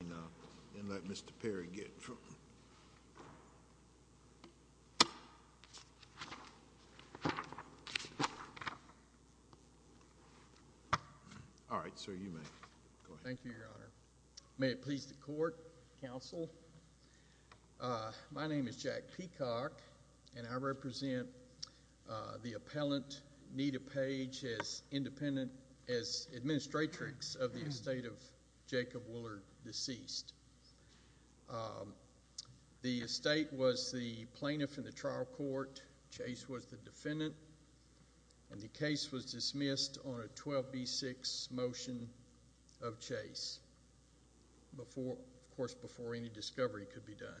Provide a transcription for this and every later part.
and let Mr. Perry get it from him. All right, sir, you may go ahead. Thank you, Your Honor. May it please the court, counsel, my name is Jack Peacock, and I represent the appellant, Nita Page, as administratrix of the estate of Jacob Willard, deceased. The estate was the plaintiff in the trial court, Chase was the defendant, and the case was dismissed on a 12B6 motion of Chase, of course, before any discovery could be done.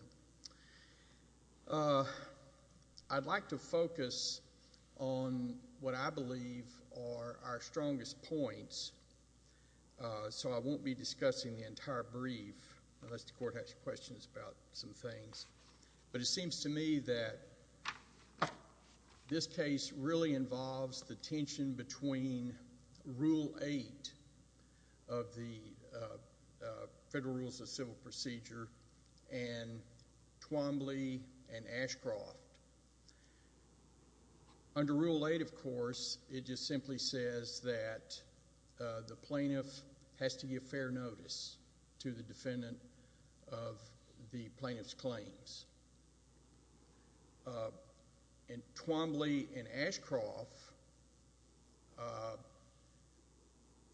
I'd like to focus on what I believe are our strongest points, so I won't be discussing the entire brief unless the court has questions about some things. But it seems to me that this case really involves the tension between Rule 8 of the Federal Rules of Civil Procedure and Twombly and Ashcroft. Under Rule 8, of course, it just simply says that the plaintiff has to give fair notice to the defendant of the plaintiff's claims. In Twombly and Ashcroft,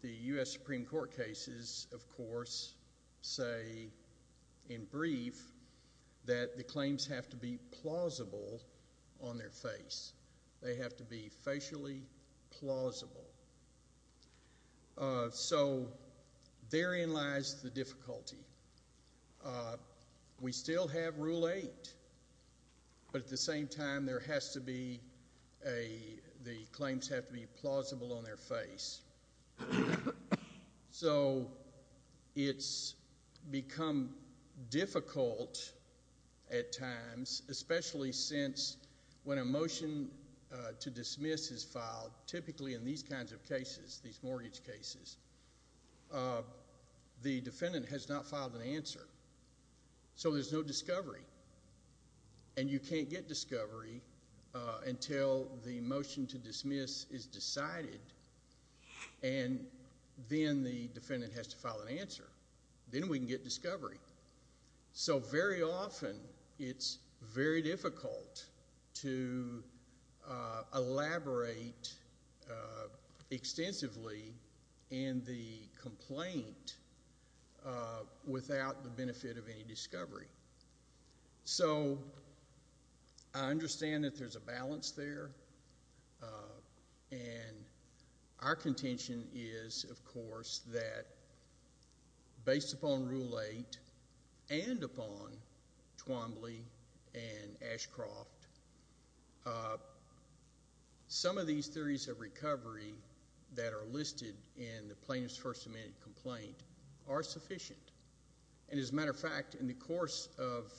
the U.S. Supreme Court cases, of course, say in brief that the claims have to be plausible on their face. They have to be facially plausible. So therein lies the difficulty. We still have Rule 8, but at the same time, the claims have to be plausible on their face. So it's become difficult at times, especially since when a motion to dismiss is filed, typically in these kinds of cases, these mortgage cases, the defendant has not filed an answer. So there's no discovery, and you can't get discovery until the motion to dismiss is decided, and then the defendant has to file an answer. Then we can get discovery. So very often it's very difficult to elaborate extensively in the complaint without the benefit of any discovery. So I understand that there's a balance there, and our contention is, of course, that based upon Rule 8 and upon Twombly and Ashcroft, some of these theories of recovery that are listed in the plaintiff's First Amendment complaint are sufficient. And as a matter of fact, in the course of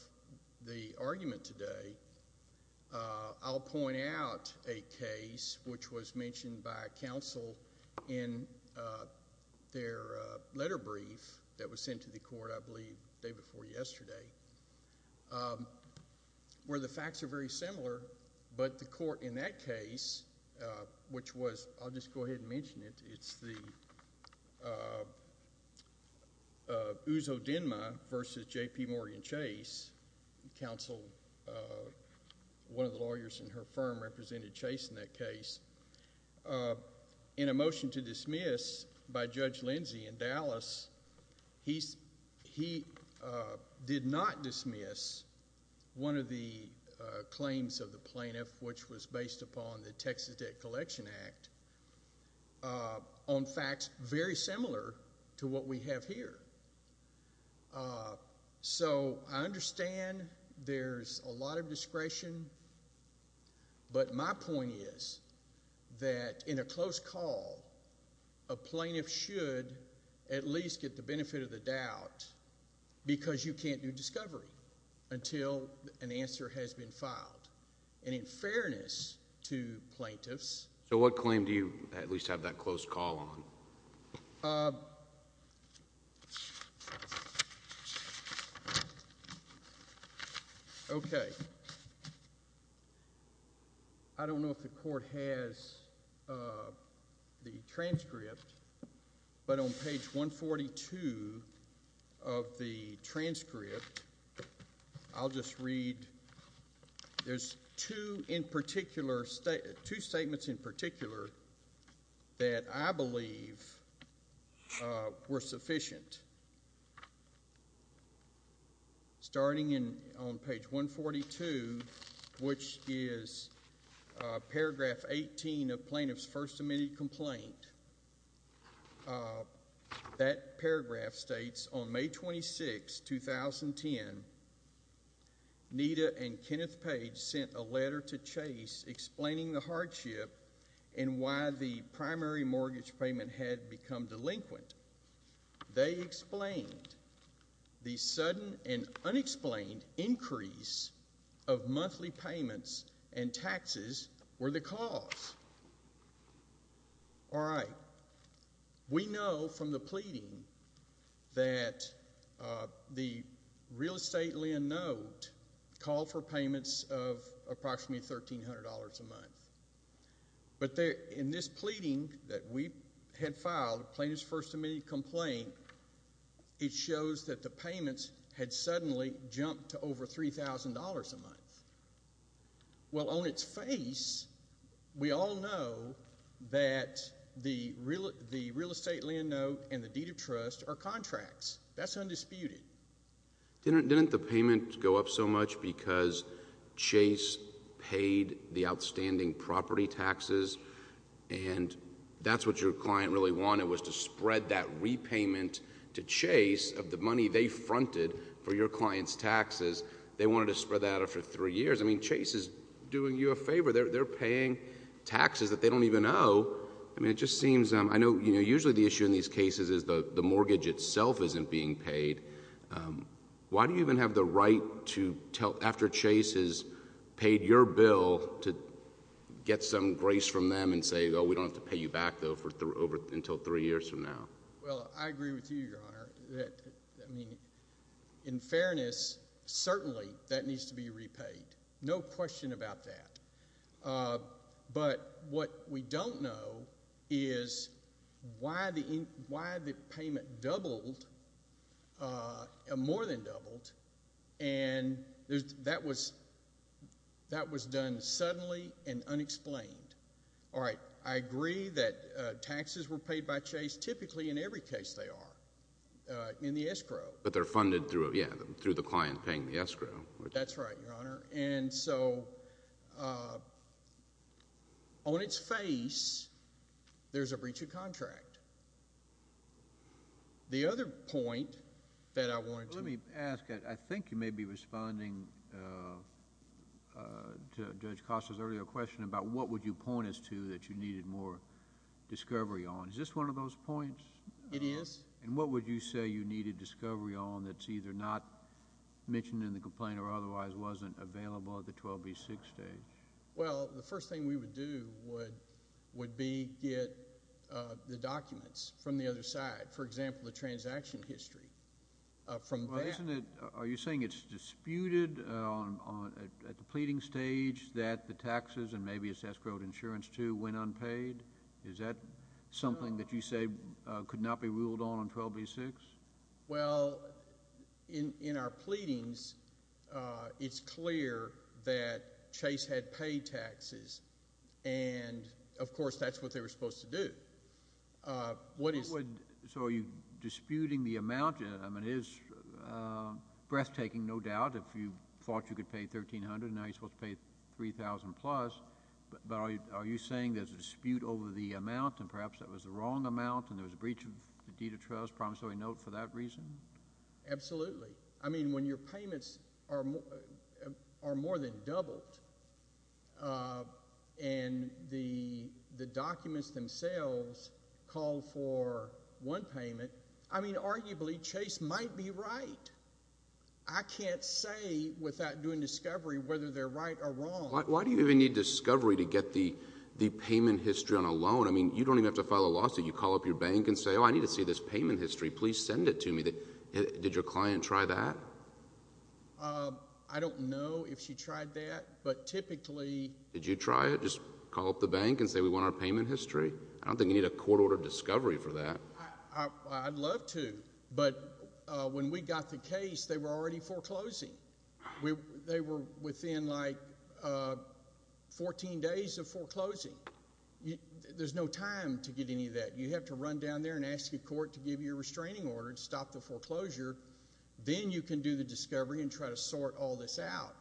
the argument today, I'll point out a case which was mentioned by counsel in their letter brief that was sent to the court, I believe, the day before yesterday, where the facts are very similar, but the court in that case, which was, I'll just go ahead and mention it. It's the Uzo Denma versus J.P. Morgan Chase. Counsel, one of the lawyers in her firm, represented Chase in that case. In a motion to dismiss by Judge Lindsey in Dallas, he did not dismiss one of the claims of the plaintiff, which was based upon the Texas Debt Collection Act, on facts very similar to what we have here. So I understand there's a lot of discretion, but my point is that in a close call, a plaintiff should at least get the benefit of the doubt because you can't do discovery until an answer has been filed. And in fairness to plaintiffs— So what claim do you at least have that close call on? Oh. Okay. I don't know if the court has the transcript, but on page 142 of the transcript, I'll just read. There's two statements in particular that I believe were sufficient. Starting on page 142, which is paragraph 18 of plaintiff's first submitted complaint, that paragraph states, On May 26, 2010, Nita and Kenneth Page sent a letter to Chase explaining the hardship and why the primary mortgage payment had become delinquent. They explained the sudden and unexplained increase of monthly payments and taxes were the cause. All right. We know from the pleading that the real estate lien note called for payments of approximately $1,300 a month. But in this pleading that we had filed, plaintiff's first submitted complaint, it shows that the payments had suddenly jumped to over $3,000 a month. Well, on its face, we all know that the real estate lien note and the deed of trust are contracts. That's undisputed. Didn't the payment go up so much because Chase paid the outstanding property taxes, and that's what your client really wanted was to spread that repayment to Chase of the money they fronted for your client's taxes. They wanted to spread that out for three years. I mean, Chase is doing you a favor. They're paying taxes that they don't even owe. I mean, it just seems, I know, you know, usually the issue in these cases is the mortgage itself isn't being paid. Why do you even have the right to tell, after Chase has paid your bill, to get some grace from them and say, oh, we don't have to pay you back, though, until three years from now? Well, I agree with you, Your Honor. I mean, in fairness, certainly that needs to be repaid, no question about that. But what we don't know is why the payment doubled, more than doubled, and that was done suddenly and unexplained. All right. I agree that taxes were paid by Chase, typically in every case they are, in the escrow. But they're funded through, yeah, through the client paying the escrow. That's right, Your Honor. And so on its face, there's a breach of contract. The other point that I wanted to— that you needed more discovery on. Is this one of those points? It is. And what would you say you needed discovery on that's either not mentioned in the complaint or otherwise wasn't available at the 12B6 stage? Well, the first thing we would do would be get the documents from the other side, for example, the transaction history from that. Are you saying it's disputed at the pleading stage that the taxes and maybe it's escrowed insurance, too, went unpaid? Is that something that you say could not be ruled on on 12B6? Well, in our pleadings, it's clear that Chase had paid taxes. And, of course, that's what they were supposed to do. So are you disputing the amount? I mean, it is breathtaking, no doubt, if you thought you could pay $1,300 and now you're supposed to pay $3,000 plus. But are you saying there's a dispute over the amount and perhaps that was the wrong amount and there was a breach of the deed of trust, promissory note, for that reason? Absolutely. I mean, when your payments are more than doubled and the documents themselves call for one payment, I mean, arguably, Chase might be right. I can't say without doing discovery whether they're right or wrong. Why do you even need discovery to get the payment history on a loan? I mean, you don't even have to file a lawsuit. You call up your bank and say, oh, I need to see this payment history. Please send it to me. Did your client try that? I don't know if she tried that, but typically— Did you try it? Just call up the bank and say, we want our payment history? I don't think you need a court-ordered discovery for that. I'd love to, but when we got the case, they were already foreclosing. They were within, like, 14 days of foreclosing. There's no time to get any of that. You have to run down there and ask a court to give you a restraining order to stop the foreclosure. Then you can do the discovery and try to sort all this out.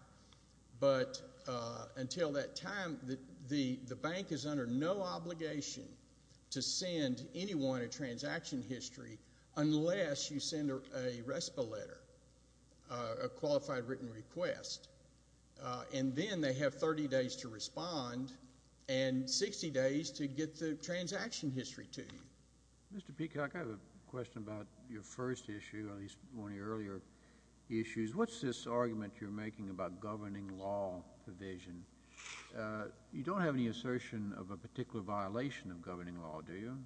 But until that time, the bank is under no obligation to send anyone a transaction history unless you send a RESPA letter, a qualified written request. And then they have 30 days to respond and 60 days to get the transaction history to you. Mr. Peacock, I have a question about your first issue, at least one of your earlier issues. What's this argument you're making about governing law provision? You don't have any assertion of a particular violation of governing law, do you?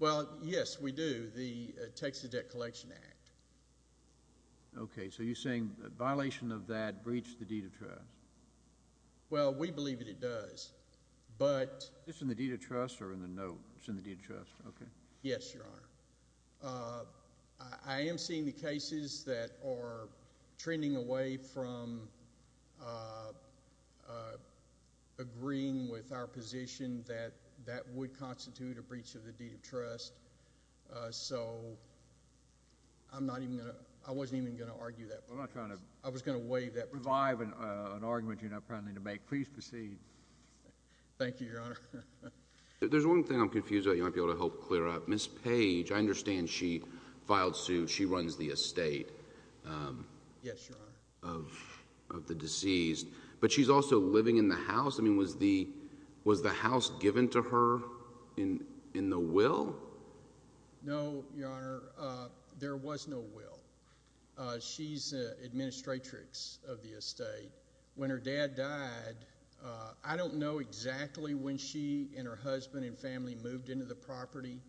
Well, yes, we do. The Texas Debt Collection Act. Okay. So you're saying a violation of that breached the deed of trust? Well, we believe that it does, but— Is this in the deed of trust or in the note? It's in the deed of trust. Okay. Yes, Your Honor. I am seeing the cases that are trending away from agreeing with our position that that would constitute a breach of the deed of trust. So I'm not even going to—I wasn't even going to argue that. I'm not trying to— I was going to waive that provision. Revive an argument you're not planning to make. Please proceed. Thank you, Your Honor. There's one thing I'm confused about you might be able to help clear up. Ms. Page, I understand she filed suit. She runs the estate of the deceased. But she's also living in the house? I mean, was the house given to her in the will? No, Your Honor. There was no will. She's an administratrix of the estate. When her dad died, I don't know exactly when she and her husband and family moved into the property.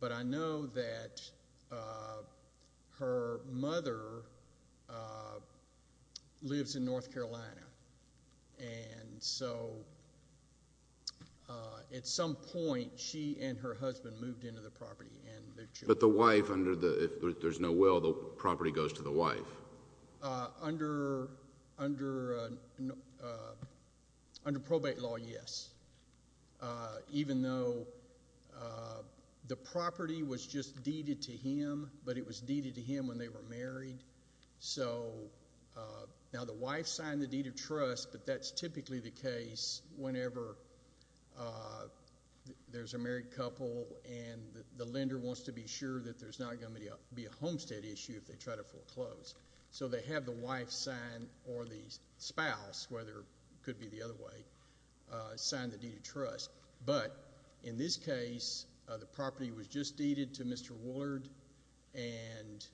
But I know that her mother lives in North Carolina. And so at some point, she and her husband moved into the property. But the wife under the—if there's no will, the property goes to the wife? Under probate law, yes. Even though the property was just deeded to him, but it was deeded to him when they were married. So now the wife signed the deed of trust, but that's typically the case whenever there's a married couple and the lender wants to be sure that there's not going to be a homestead issue if they try to foreclose. So they have the wife sign, or the spouse, whether it could be the other way, sign the deed of trust. But in this case, the property was just deeded to Mr. Woollard, and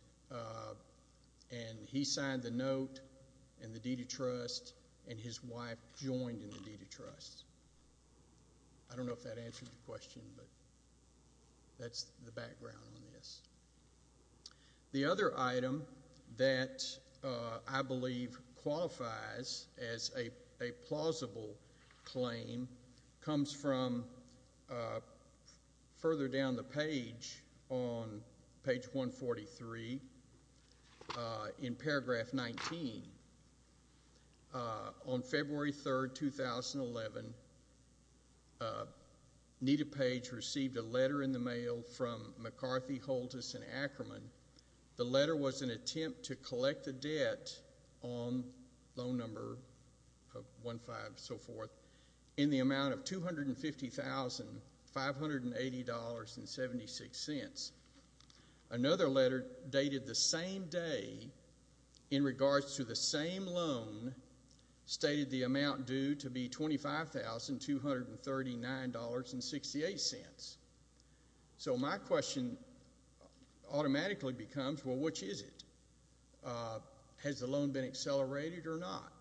he signed the note and the deed of trust, and his wife joined in the deed of trust. I don't know if that answers your question, but that's the background on this. The other item that I believe qualifies as a plausible claim comes from further down the page on page 143 in paragraph 19. On February 3, 2011, Nita Page received a letter in the mail from McCarthy, Holtus, and Ackerman. The letter was an attempt to collect the debt on loan number 15, so forth, in the amount of $250,580.76. Another letter dated the same day in regards to the same loan stated the amount due to be $25,239.68. So my question automatically becomes, well, which is it? Has the loan been accelerated or not?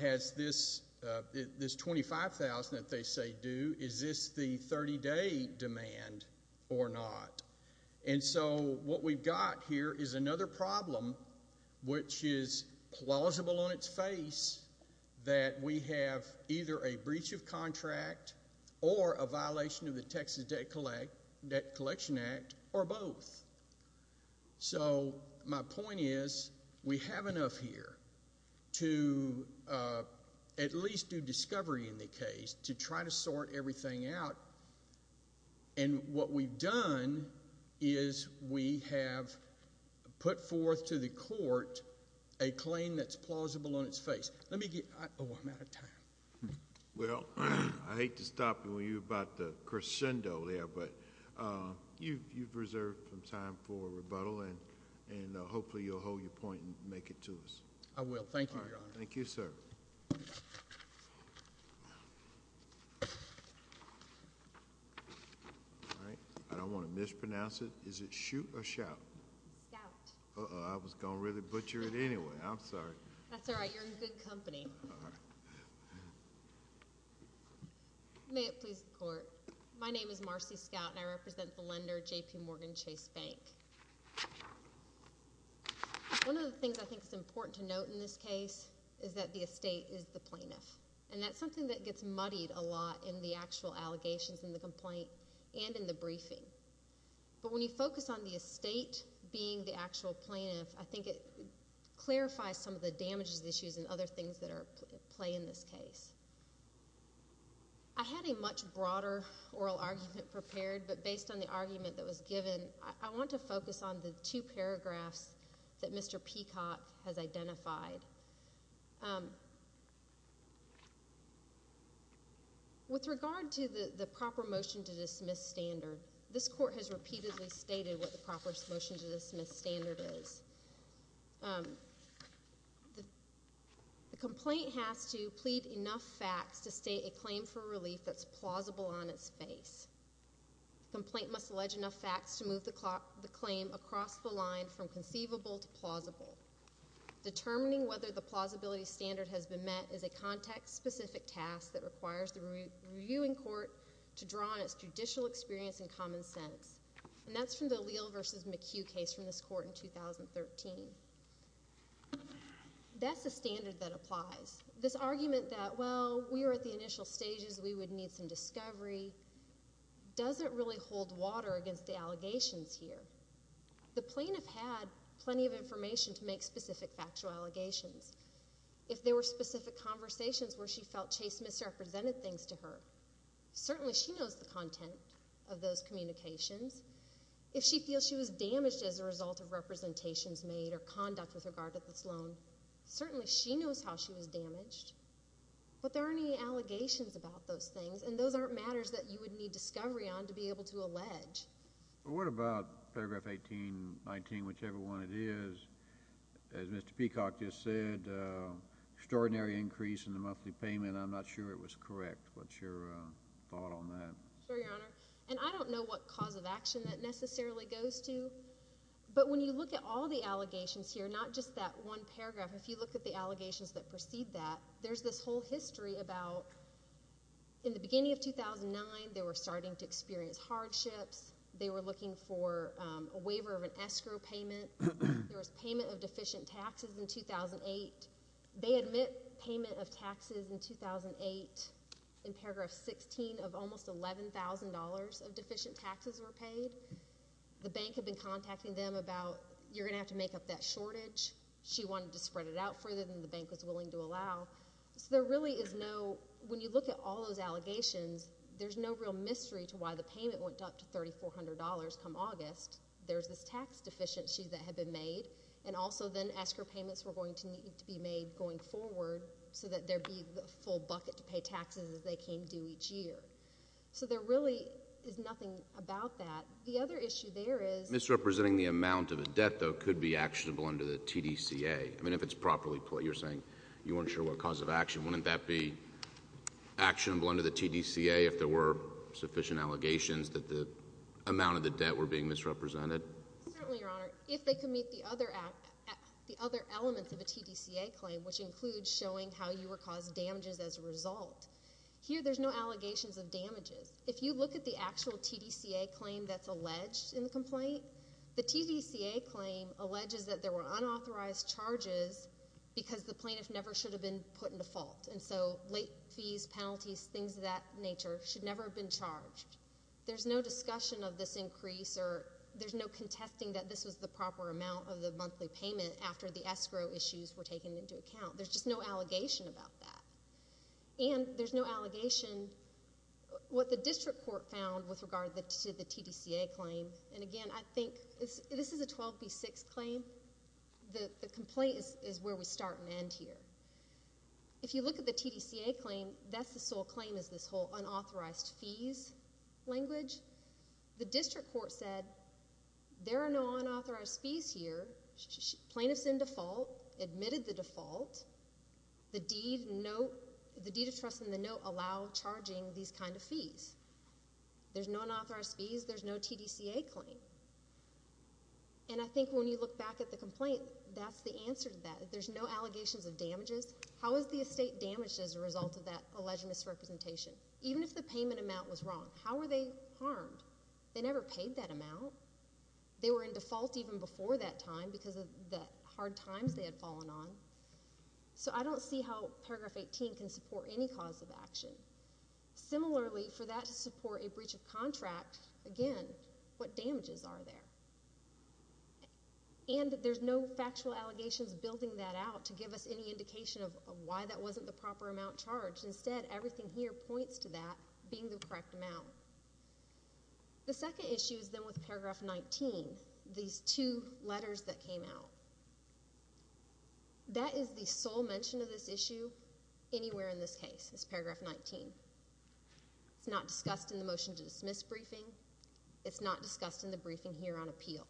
Has this $25,000 that they say due, is this the 30-day demand or not? And so what we've got here is another problem, which is plausible on its face that we have either a breach of contract or a violation of the Texas Debt Collection Act, or both. So my point is, we have enough here to at least do discovery in the case, to try to sort everything out, and what we've done is we have put forth to the court a claim that's plausible on its face. Let me get, oh, I'm out of time. Well, I hate to stop you about the crescendo there, but you've reserved some time for rebuttal, and hopefully you'll hold your point and make it to us. I will. Thank you, Your Honor. Thank you, sir. All right, I don't want to mispronounce it. Is it shoot or shout? Scout. Uh-oh, I was going to really butcher it anyway. I'm sorry. That's all right, you're in good company. All right. May it please the Court, my name is Marcy Scout, and I represent the lender J.P. Morgan Chase Bank. One of the things I think is important to note in this case is that the estate is the plaintiff, and that's something that gets muddied a lot in the actual allegations in the complaint and in the briefing. But when you focus on the estate being the actual plaintiff, I think it clarifies some of the damages, issues, and other things that play in this case. I had a much broader oral argument prepared, but based on the argument that was given, I want to focus on the two paragraphs that Mr. Peacock has identified. With regard to the proper motion to dismiss standard, this Court has repeatedly stated what the proper motion to dismiss standard is. The complaint has to plead enough facts to state a claim for relief that's plausible on its face. The complaint must allege enough facts to move the claim across the line from conceivable to plausible. Determining whether the plausibility standard has been met is a context-specific task that requires the reviewing court to draw on its judicial experience and common sense. And that's from the Leal v. McHugh case from this Court in 2013. That's a standard that applies. This argument that, well, we were at the initial stages, we would need some discovery, doesn't really hold water against the allegations here. The plaintiff had plenty of information to make specific factual allegations. If there were specific conversations where she felt Chase misrepresented things to her, certainly she knows the content of those communications. If she feels she was damaged as a result of representations made or conduct with regard to this loan, certainly she knows how she was damaged. But there aren't any allegations about those things, and those aren't matters that you would need discovery on to be able to allege. Well, what about paragraph 18, 19, whichever one it is? As Mr. Peacock just said, extraordinary increase in the monthly payment. I'm not sure it was correct. What's your thought on that? Sure, Your Honor. And I don't know what cause of action that necessarily goes to. But when you look at all the allegations here, not just that one paragraph, if you look at the allegations that precede that, there's this whole history about, in the beginning of 2009, they were starting to experience hardships. They were looking for a waiver of an escrow payment. There was payment of deficient taxes in 2008. They admit payment of taxes in 2008. In paragraph 16 of almost $11,000 of deficient taxes were paid. The bank had been contacting them about, you're going to have to make up that shortage. She wanted to spread it out further than the bank was willing to allow. So there really is no, when you look at all those allegations, there's no real mystery to why the payment went up to $3,400 come August. There's this tax deficiency that had been made, and also then escrow payments were going to need to be made going forward so that there'd be a full bucket to pay taxes as they came due each year. So there really is nothing about that. The other issue there is— Misrepresenting the amount of a debt, though, could be actionable under the TDCA. I mean, if it's properly put, you're saying you weren't sure what cause of action. Wouldn't that be actionable under the TDCA if there were sufficient allegations that the amount of the debt were being misrepresented? Certainly, Your Honor. If they could meet the other elements of a TDCA claim, which includes showing how you were causing damages as a result. Here, there's no allegations of damages. If you look at the actual TDCA claim that's alleged in the complaint, the TDCA claim alleges that there were unauthorized charges because the plaintiff never should have been put into fault. And so late fees, penalties, things of that nature should never have been charged. There's no discussion of this increase, or there's no contesting that this was the proper amount of the monthly payment after the escrow issues were taken into account. There's just no allegation about that. And there's no allegation— What the district court found with regard to the TDCA claim— And again, I think— This is a 12B6 claim. The complaint is where we start and end here. If you look at the TDCA claim, that's the sole claim is this whole unauthorized fees language. The district court said, there are no unauthorized fees here. Plaintiff's in default, admitted the default. The deed of trust in the note allowed charging these kind of fees. There's no unauthorized fees. There's no TDCA claim. And I think when you look back at the complaint, that's the answer to that. There's no allegations of damages. How is the estate damaged as a result of that alleged misrepresentation? Even if the payment amount was wrong, how were they harmed? They never paid that amount. They were in default even before that time because of the hard times they had fallen on. So I don't see how paragraph 18 can support any cause of action. Similarly, for that to support a breach of contract, again, what damages are there? And there's no factual allegations building that out to give us any indication of why that wasn't the proper amount charged. Instead, everything here points to that being the correct amount. The second issue is then with paragraph 19, these two letters that came out. That is the sole mention of this issue anywhere in this case, is paragraph 19. It's not discussed in the motion to dismiss briefing. It's not discussed in the briefing here on appeal.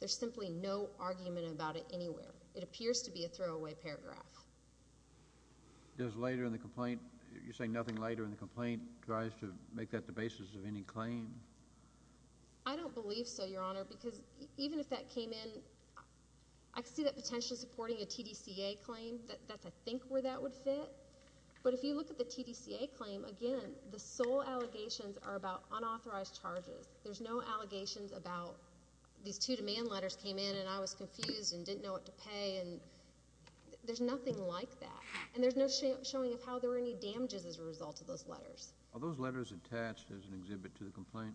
There's simply no argument about it anywhere. It appears to be a throwaway paragraph. You're saying nothing later in the complaint tries to make that the basis of any claim? I don't believe so, Your Honor, because even if that came in, I could see that potentially supporting a TDCA claim. That's, I think, where that would fit. But if you look at the TDCA claim, again, the sole allegations are about unauthorized charges. There's no allegations about these two demand letters came in and I was confused and didn't know what to pay. There's nothing like that. And there's no showing of how there were any damages as a result of those letters. Are those letters attached as an exhibit to the complaint?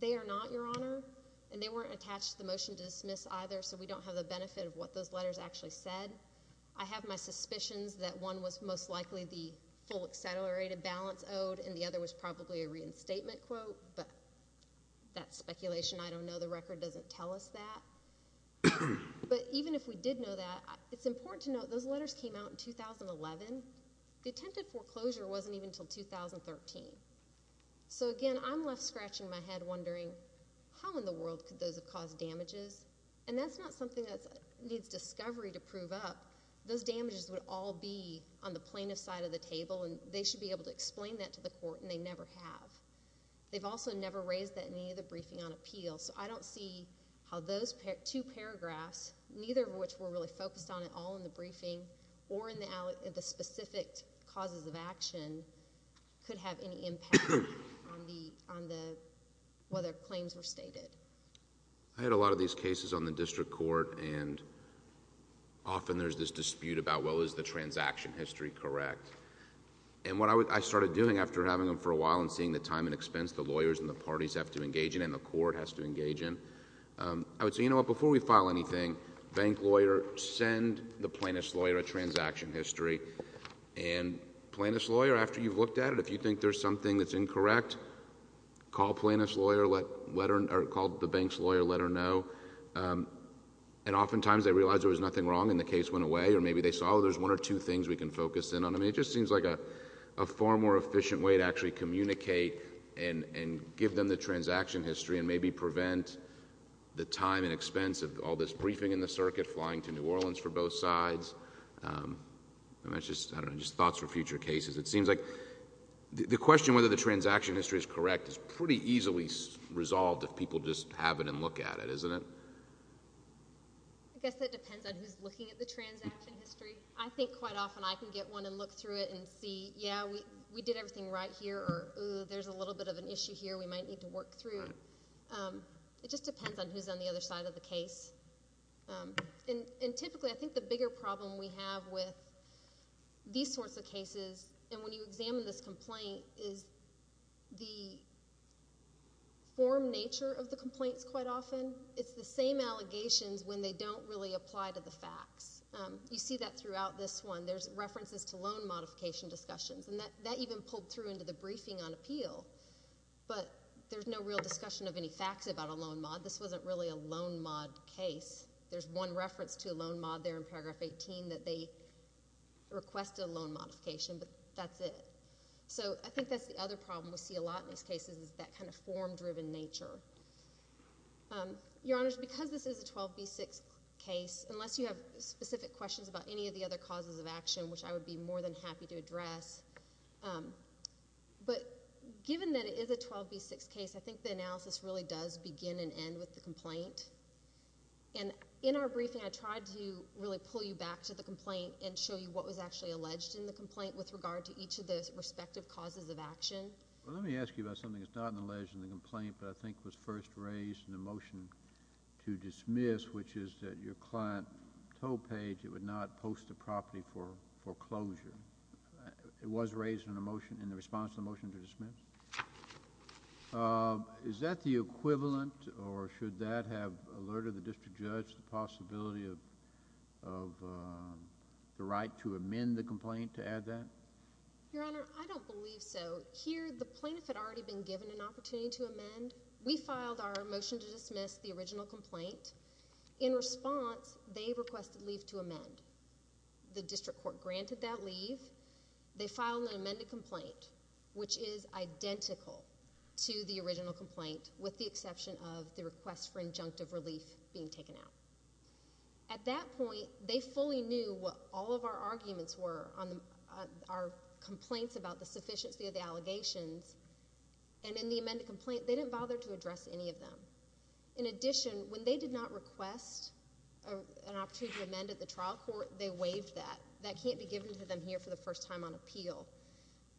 They are not, Your Honor, and they weren't attached to the motion to dismiss either, so we don't have the benefit of what those letters actually said. I have my suspicions that one was most likely the full accelerated balance owed and the other was probably a reinstatement quote, but that's speculation. I don't know. The record doesn't tell us that. But even if we did know that, it's important to note those letters came out in 2011. The attempted foreclosure wasn't even until 2013. So, again, I'm left scratching my head wondering how in the world could those have caused damages, and that's not something that needs discovery to prove up. Those damages would all be on the plaintiff's side of the table and they should be able to explain that to the court and they never have. They've also never raised that in any of the briefing on appeal, so I don't see how those two paragraphs, neither of which were really focused on at all in the briefing or in the specific causes of action, could have any impact on whether claims were stated. I had a lot of these cases on the district court and often there's this dispute about, well, is the transaction history correct? And what I started doing after having them for a while and seeing the time and expense the lawyers and the parties have to engage in and the court has to engage in, I would say, you know what, before we file anything, bank lawyer, send the plaintiff's lawyer a transaction history and plaintiff's lawyer, after you've looked at it, if you think there's something that's incorrect, call the bank's lawyer, let her know. And oftentimes they realize there was nothing wrong and the case went away or maybe they saw there's one or two things we can focus in on. I mean, it just seems like a far more efficient way to actually communicate and give them the transaction history and maybe prevent the time and expense of all this briefing in the circuit, flying to New Orleans for both sides. I don't know, just thoughts for future cases. It seems like the question whether the transaction history is correct is pretty easily resolved if people just have it and look at it, isn't it? I guess that depends on who's looking at the transaction history. I think quite often I can get one and look through it and see, yeah, we did everything right here, or there's a little bit of an issue here we might need to work through. It just depends on who's on the other side of the case. And typically I think the bigger problem we have with these sorts of cases and when you examine this complaint is the form nature of the complaints quite often. It's the same allegations when they don't really apply to the facts. You see that throughout this one. There's references to loan modification discussions, and that even pulled through into the briefing on appeal, but there's no real discussion of any facts about a loan mod. This wasn't really a loan mod case. There's one reference to a loan mod there in Paragraph 18 that they requested a loan modification, but that's it. So I think that's the other problem we see a lot in these cases is that kind of form-driven nature. Your Honors, because this is a 12B6 case, unless you have specific questions about any of the other causes of action, which I would be more than happy to address, but given that it is a 12B6 case, I think the analysis really does begin and end with the complaint. In our briefing, I tried to really pull you back to the complaint and show you what was actually alleged in the complaint with regard to each of the respective causes of action. Let me ask you about something that's not alleged in the complaint but I think was first raised in the motion to dismiss, which is that your client told Page it would not post the property for foreclosure. It was raised in the response to the motion to dismiss. Is that the equivalent, or should that have alerted the district judge to the possibility of the right to amend the complaint to add that? Your Honor, I don't believe so. Here, the plaintiff had already been given an opportunity to amend. We filed our motion to dismiss the original complaint. In response, they requested leave to amend. The district court granted that leave. They filed an amended complaint, which is identical to the original complaint, with the exception of the request for injunctive relief being taken out. At that point, they fully knew what all of our arguments were, our complaints about the sufficiency of the allegations, and in the amended complaint, they didn't bother to address any of them. In addition, when they did not request an opportunity to amend at the trial court, they waived that. That can't be given to them here for the first time on appeal.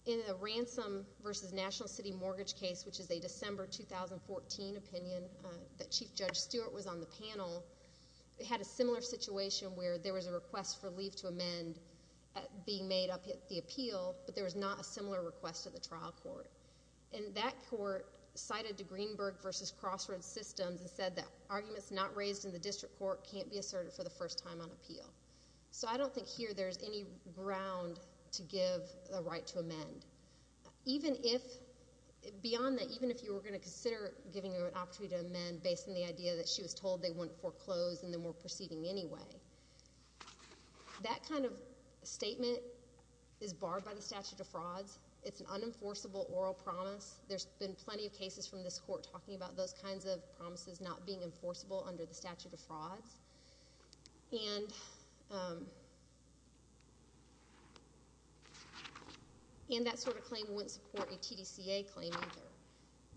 In the ransom versus national city mortgage case, which is a December 2014 opinion that Chief Judge Stewart was on the panel, they had a similar situation where there was a request for leave to amend being made up at the appeal, but there was not a similar request at the trial court. And that court cited the Greenberg versus Crossroads systems and said that arguments not raised in the district court can't be asserted for the first time on appeal. So I don't think here there's any ground to give a right to amend. Beyond that, even if you were going to consider giving her an opportunity to amend based on the idea that she was told they wouldn't foreclose and then were proceeding anyway, that kind of statement is barred by the statute of frauds. It's an unenforceable oral promise. There's been plenty of cases from this court talking about those kinds of promises not being enforceable under the statute of frauds. And that sort of claim wouldn't support a TDCA claim either.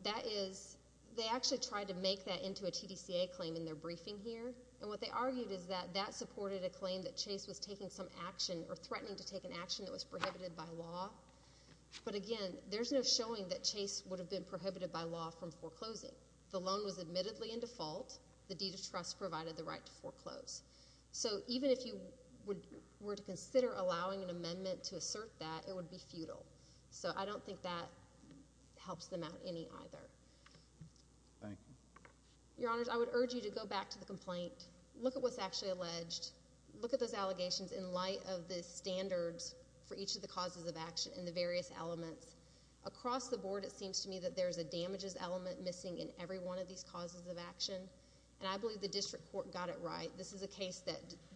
That is, they actually tried to make that into a TDCA claim in their briefing here, and what they argued is that that supported a claim that Chase was taking some action or threatening to take an action that was prohibited by law. But again, there's no showing that Chase would have been prohibited by law from foreclosing. The loan was admittedly in default. The deed of trust provided the right to foreclose. So even if you were to consider allowing an amendment to assert that, it would be futile. So I don't think that helps them out any either. Thank you. Your Honors, I would urge you to go back to the complaint. Look at what's actually alleged. Look at those allegations in light of the standards for each of the causes of action and the various elements. Across the board, it seems to me that there's a damages element missing in every one of these causes of action, and I believe the district court got it right. This is a case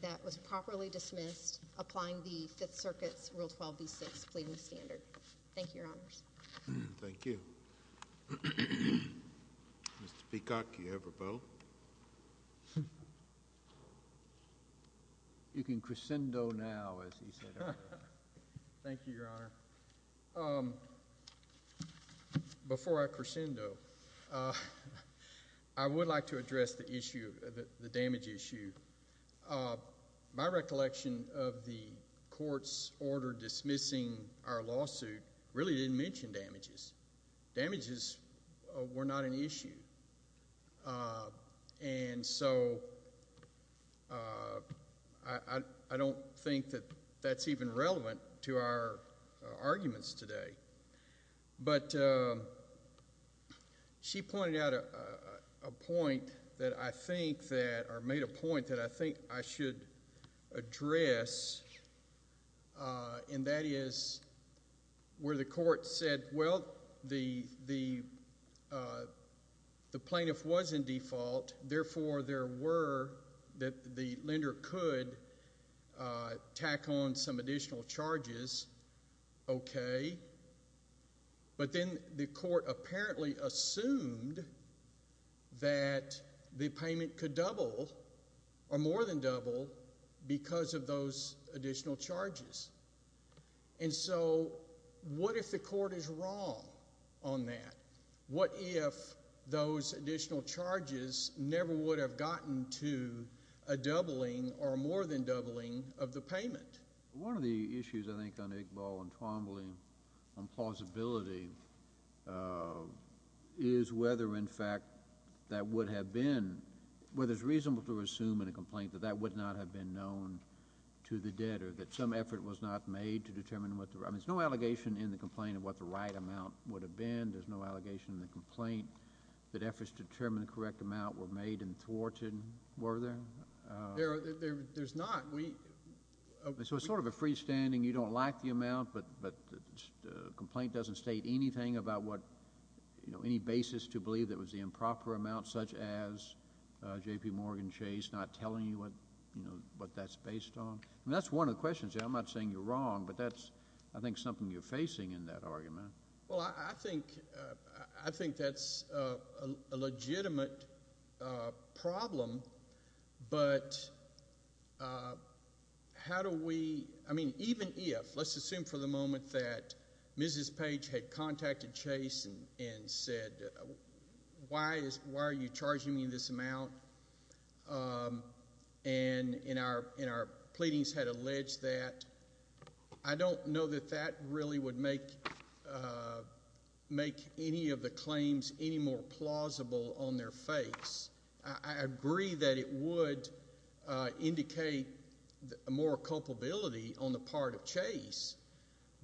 that was properly dismissed, applying the Fifth Circuit's Rule 12b-6 pleading standard. Thank you, Your Honors. Thank you. Mr. Peacock, do you have a vote? You can crescendo now, as he said earlier. Thank you, Your Honor. Before I crescendo, I would like to address the issue, the damage issue. My recollection of the court's order dismissing our lawsuit really didn't mention damages. Damages were not an issue. And so I don't think that that's even relevant to our arguments today. But she pointed out a point that I think that, or made a point that I think I should address, and that is where the court said, well, the plaintiff was in default, therefore there were that the lender could tack on some additional charges. Okay. But then the court apparently assumed that the payment could double or more than double because of those additional charges. And so what if the court is wrong on that? What if those additional charges never would have gotten to a doubling or more than doubling of the payment? One of the issues, I think, on Iqbal and Twombly on plausibility is whether, in fact, that would have been, whether it's reasonable to assume in a complaint that that would not have been known to the debtor, that some effort was not made to determine what the, I mean, there's no allegation in the complaint of what the right amount would have been. There's no allegation in the complaint that efforts to determine the correct amount were made and thwarted. Were there? There's not. So it's sort of a freestanding, you don't like the amount, but the complaint doesn't state anything about what, you know, any basis to believe that it was the improper amount, such as J.P. Morgan Chase, not telling you what that's based on? I mean, that's one of the questions. I'm not saying you're wrong, but that's, I think, something you're facing in that argument. Well, I think that's a legitimate problem, but how do we, I mean, even if, let's assume for the moment that Mrs. Page had contacted Chase and said, why are you charging me this amount? And in our pleadings had alleged that. I don't know that that really would make any of the claims any more plausible on their face. I agree that it would indicate more culpability on the part of Chase,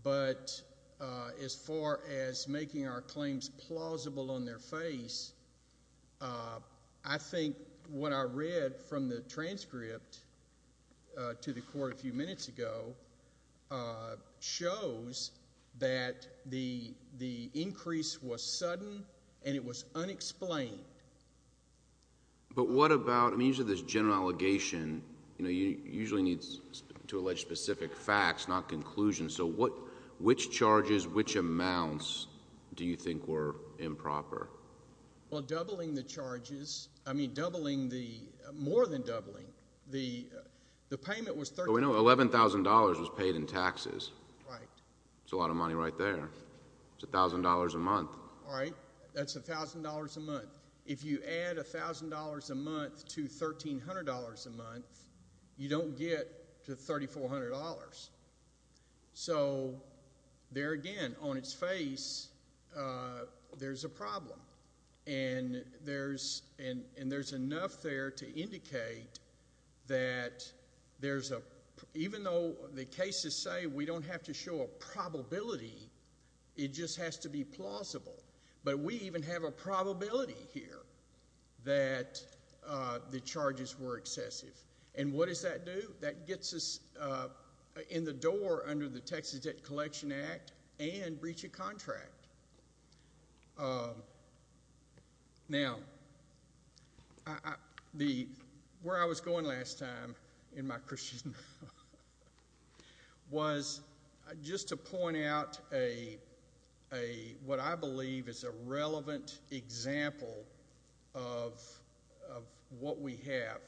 but as far as making our claims plausible on their face, I think what I read from the transcript to the court a few minutes ago shows that the increase was sudden and it was unexplained. But what about, I mean, usually this general allegation, you know, usually needs to allege specific facts, not conclusions. So which charges, which amounts do you think were improper? Well, doubling the charges, I mean, doubling the, more than doubling. The payment was $13,000. No, $11,000 was paid in taxes. Right. It's $1,000 a month. All right. That's $1,000 a month. If you add $1,000 a month to $1,300 a month, you don't get to $3,400. So there again, on its face, there's a problem. And there's enough there to indicate that there's a, even though the cases say we don't have to show a probability, it just has to be plausible. But we even have a probability here that the charges were excessive. And what does that do? That gets us in the door under the Texas Debt Collection Act and breach of contract. Now, where I was going last time in my Christian was just to point out a, what I believe is a relevant example of what we have.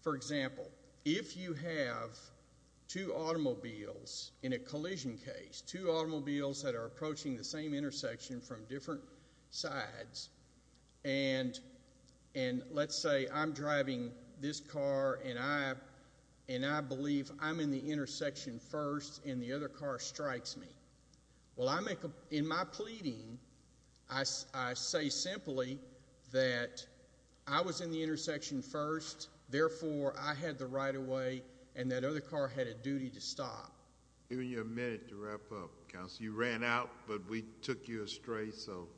For example, if you have two automobiles in a collision case, two automobiles that are approaching the same intersection from different sides, and let's say I'm driving this car and I believe I'm in the intersection first and the other car strikes me. Well, in my pleading, I say simply that I was in the intersection first, therefore I had the right of way and that other car had a duty to stop. I'm giving you a minute to wrap up, Counsel. You ran out, but we took you astray, so.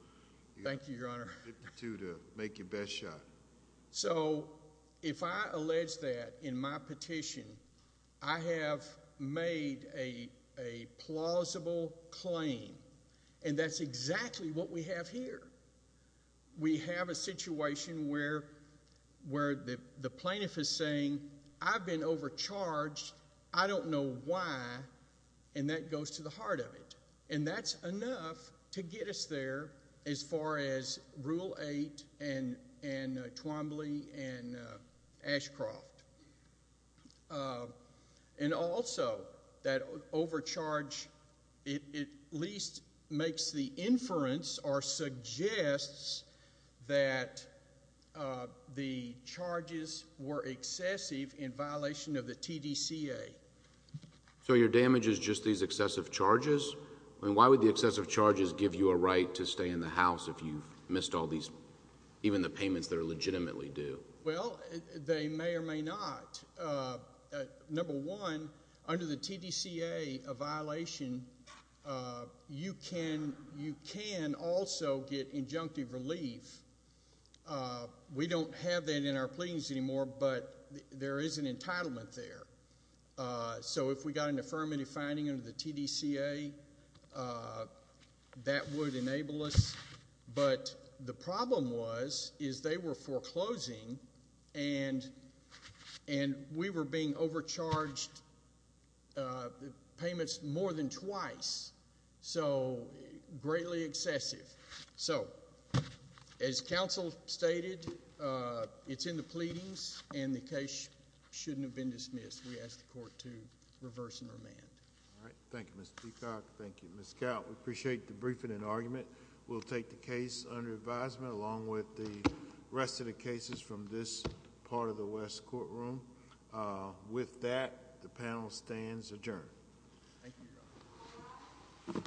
Thank you, Your Honor. You get two to make your best shot. So if I allege that in my petition, I have made a plausible claim, and that's exactly what we have here. We have a situation where the plaintiff is saying, I've been overcharged, I don't know why, and that goes to the heart of it. And that's enough to get us there as far as Rule 8 and Twombly and Ashcroft. And also that overcharge at least makes the inference or suggests that the charges were excessive in violation of the TDCA. So your damage is just these excessive charges? I mean, why would the excessive charges give you a right to stay in the house if you've missed all these, even the payments that are legitimately due? Well, they may or may not. Number one, under the TDCA, a violation, you can also get injunctive relief. We don't have that in our pleadings anymore, but there is an entitlement there. So if we got an affirmative finding under the TDCA, that would enable us. But the problem was is they were foreclosing, and we were being overcharged payments more than twice. So greatly excessive. So as counsel stated, it's in the pleadings, and the case shouldn't have been dismissed. We ask the court to reverse and remand. All right. Thank you, Mr. Peacock. Thank you, Ms. Coutt. We appreciate the briefing and argument. We'll take the case under advisement, along with the rest of the cases from this part of the West courtroom. With that, the panel stands adjourned. Thank you, Your Honor.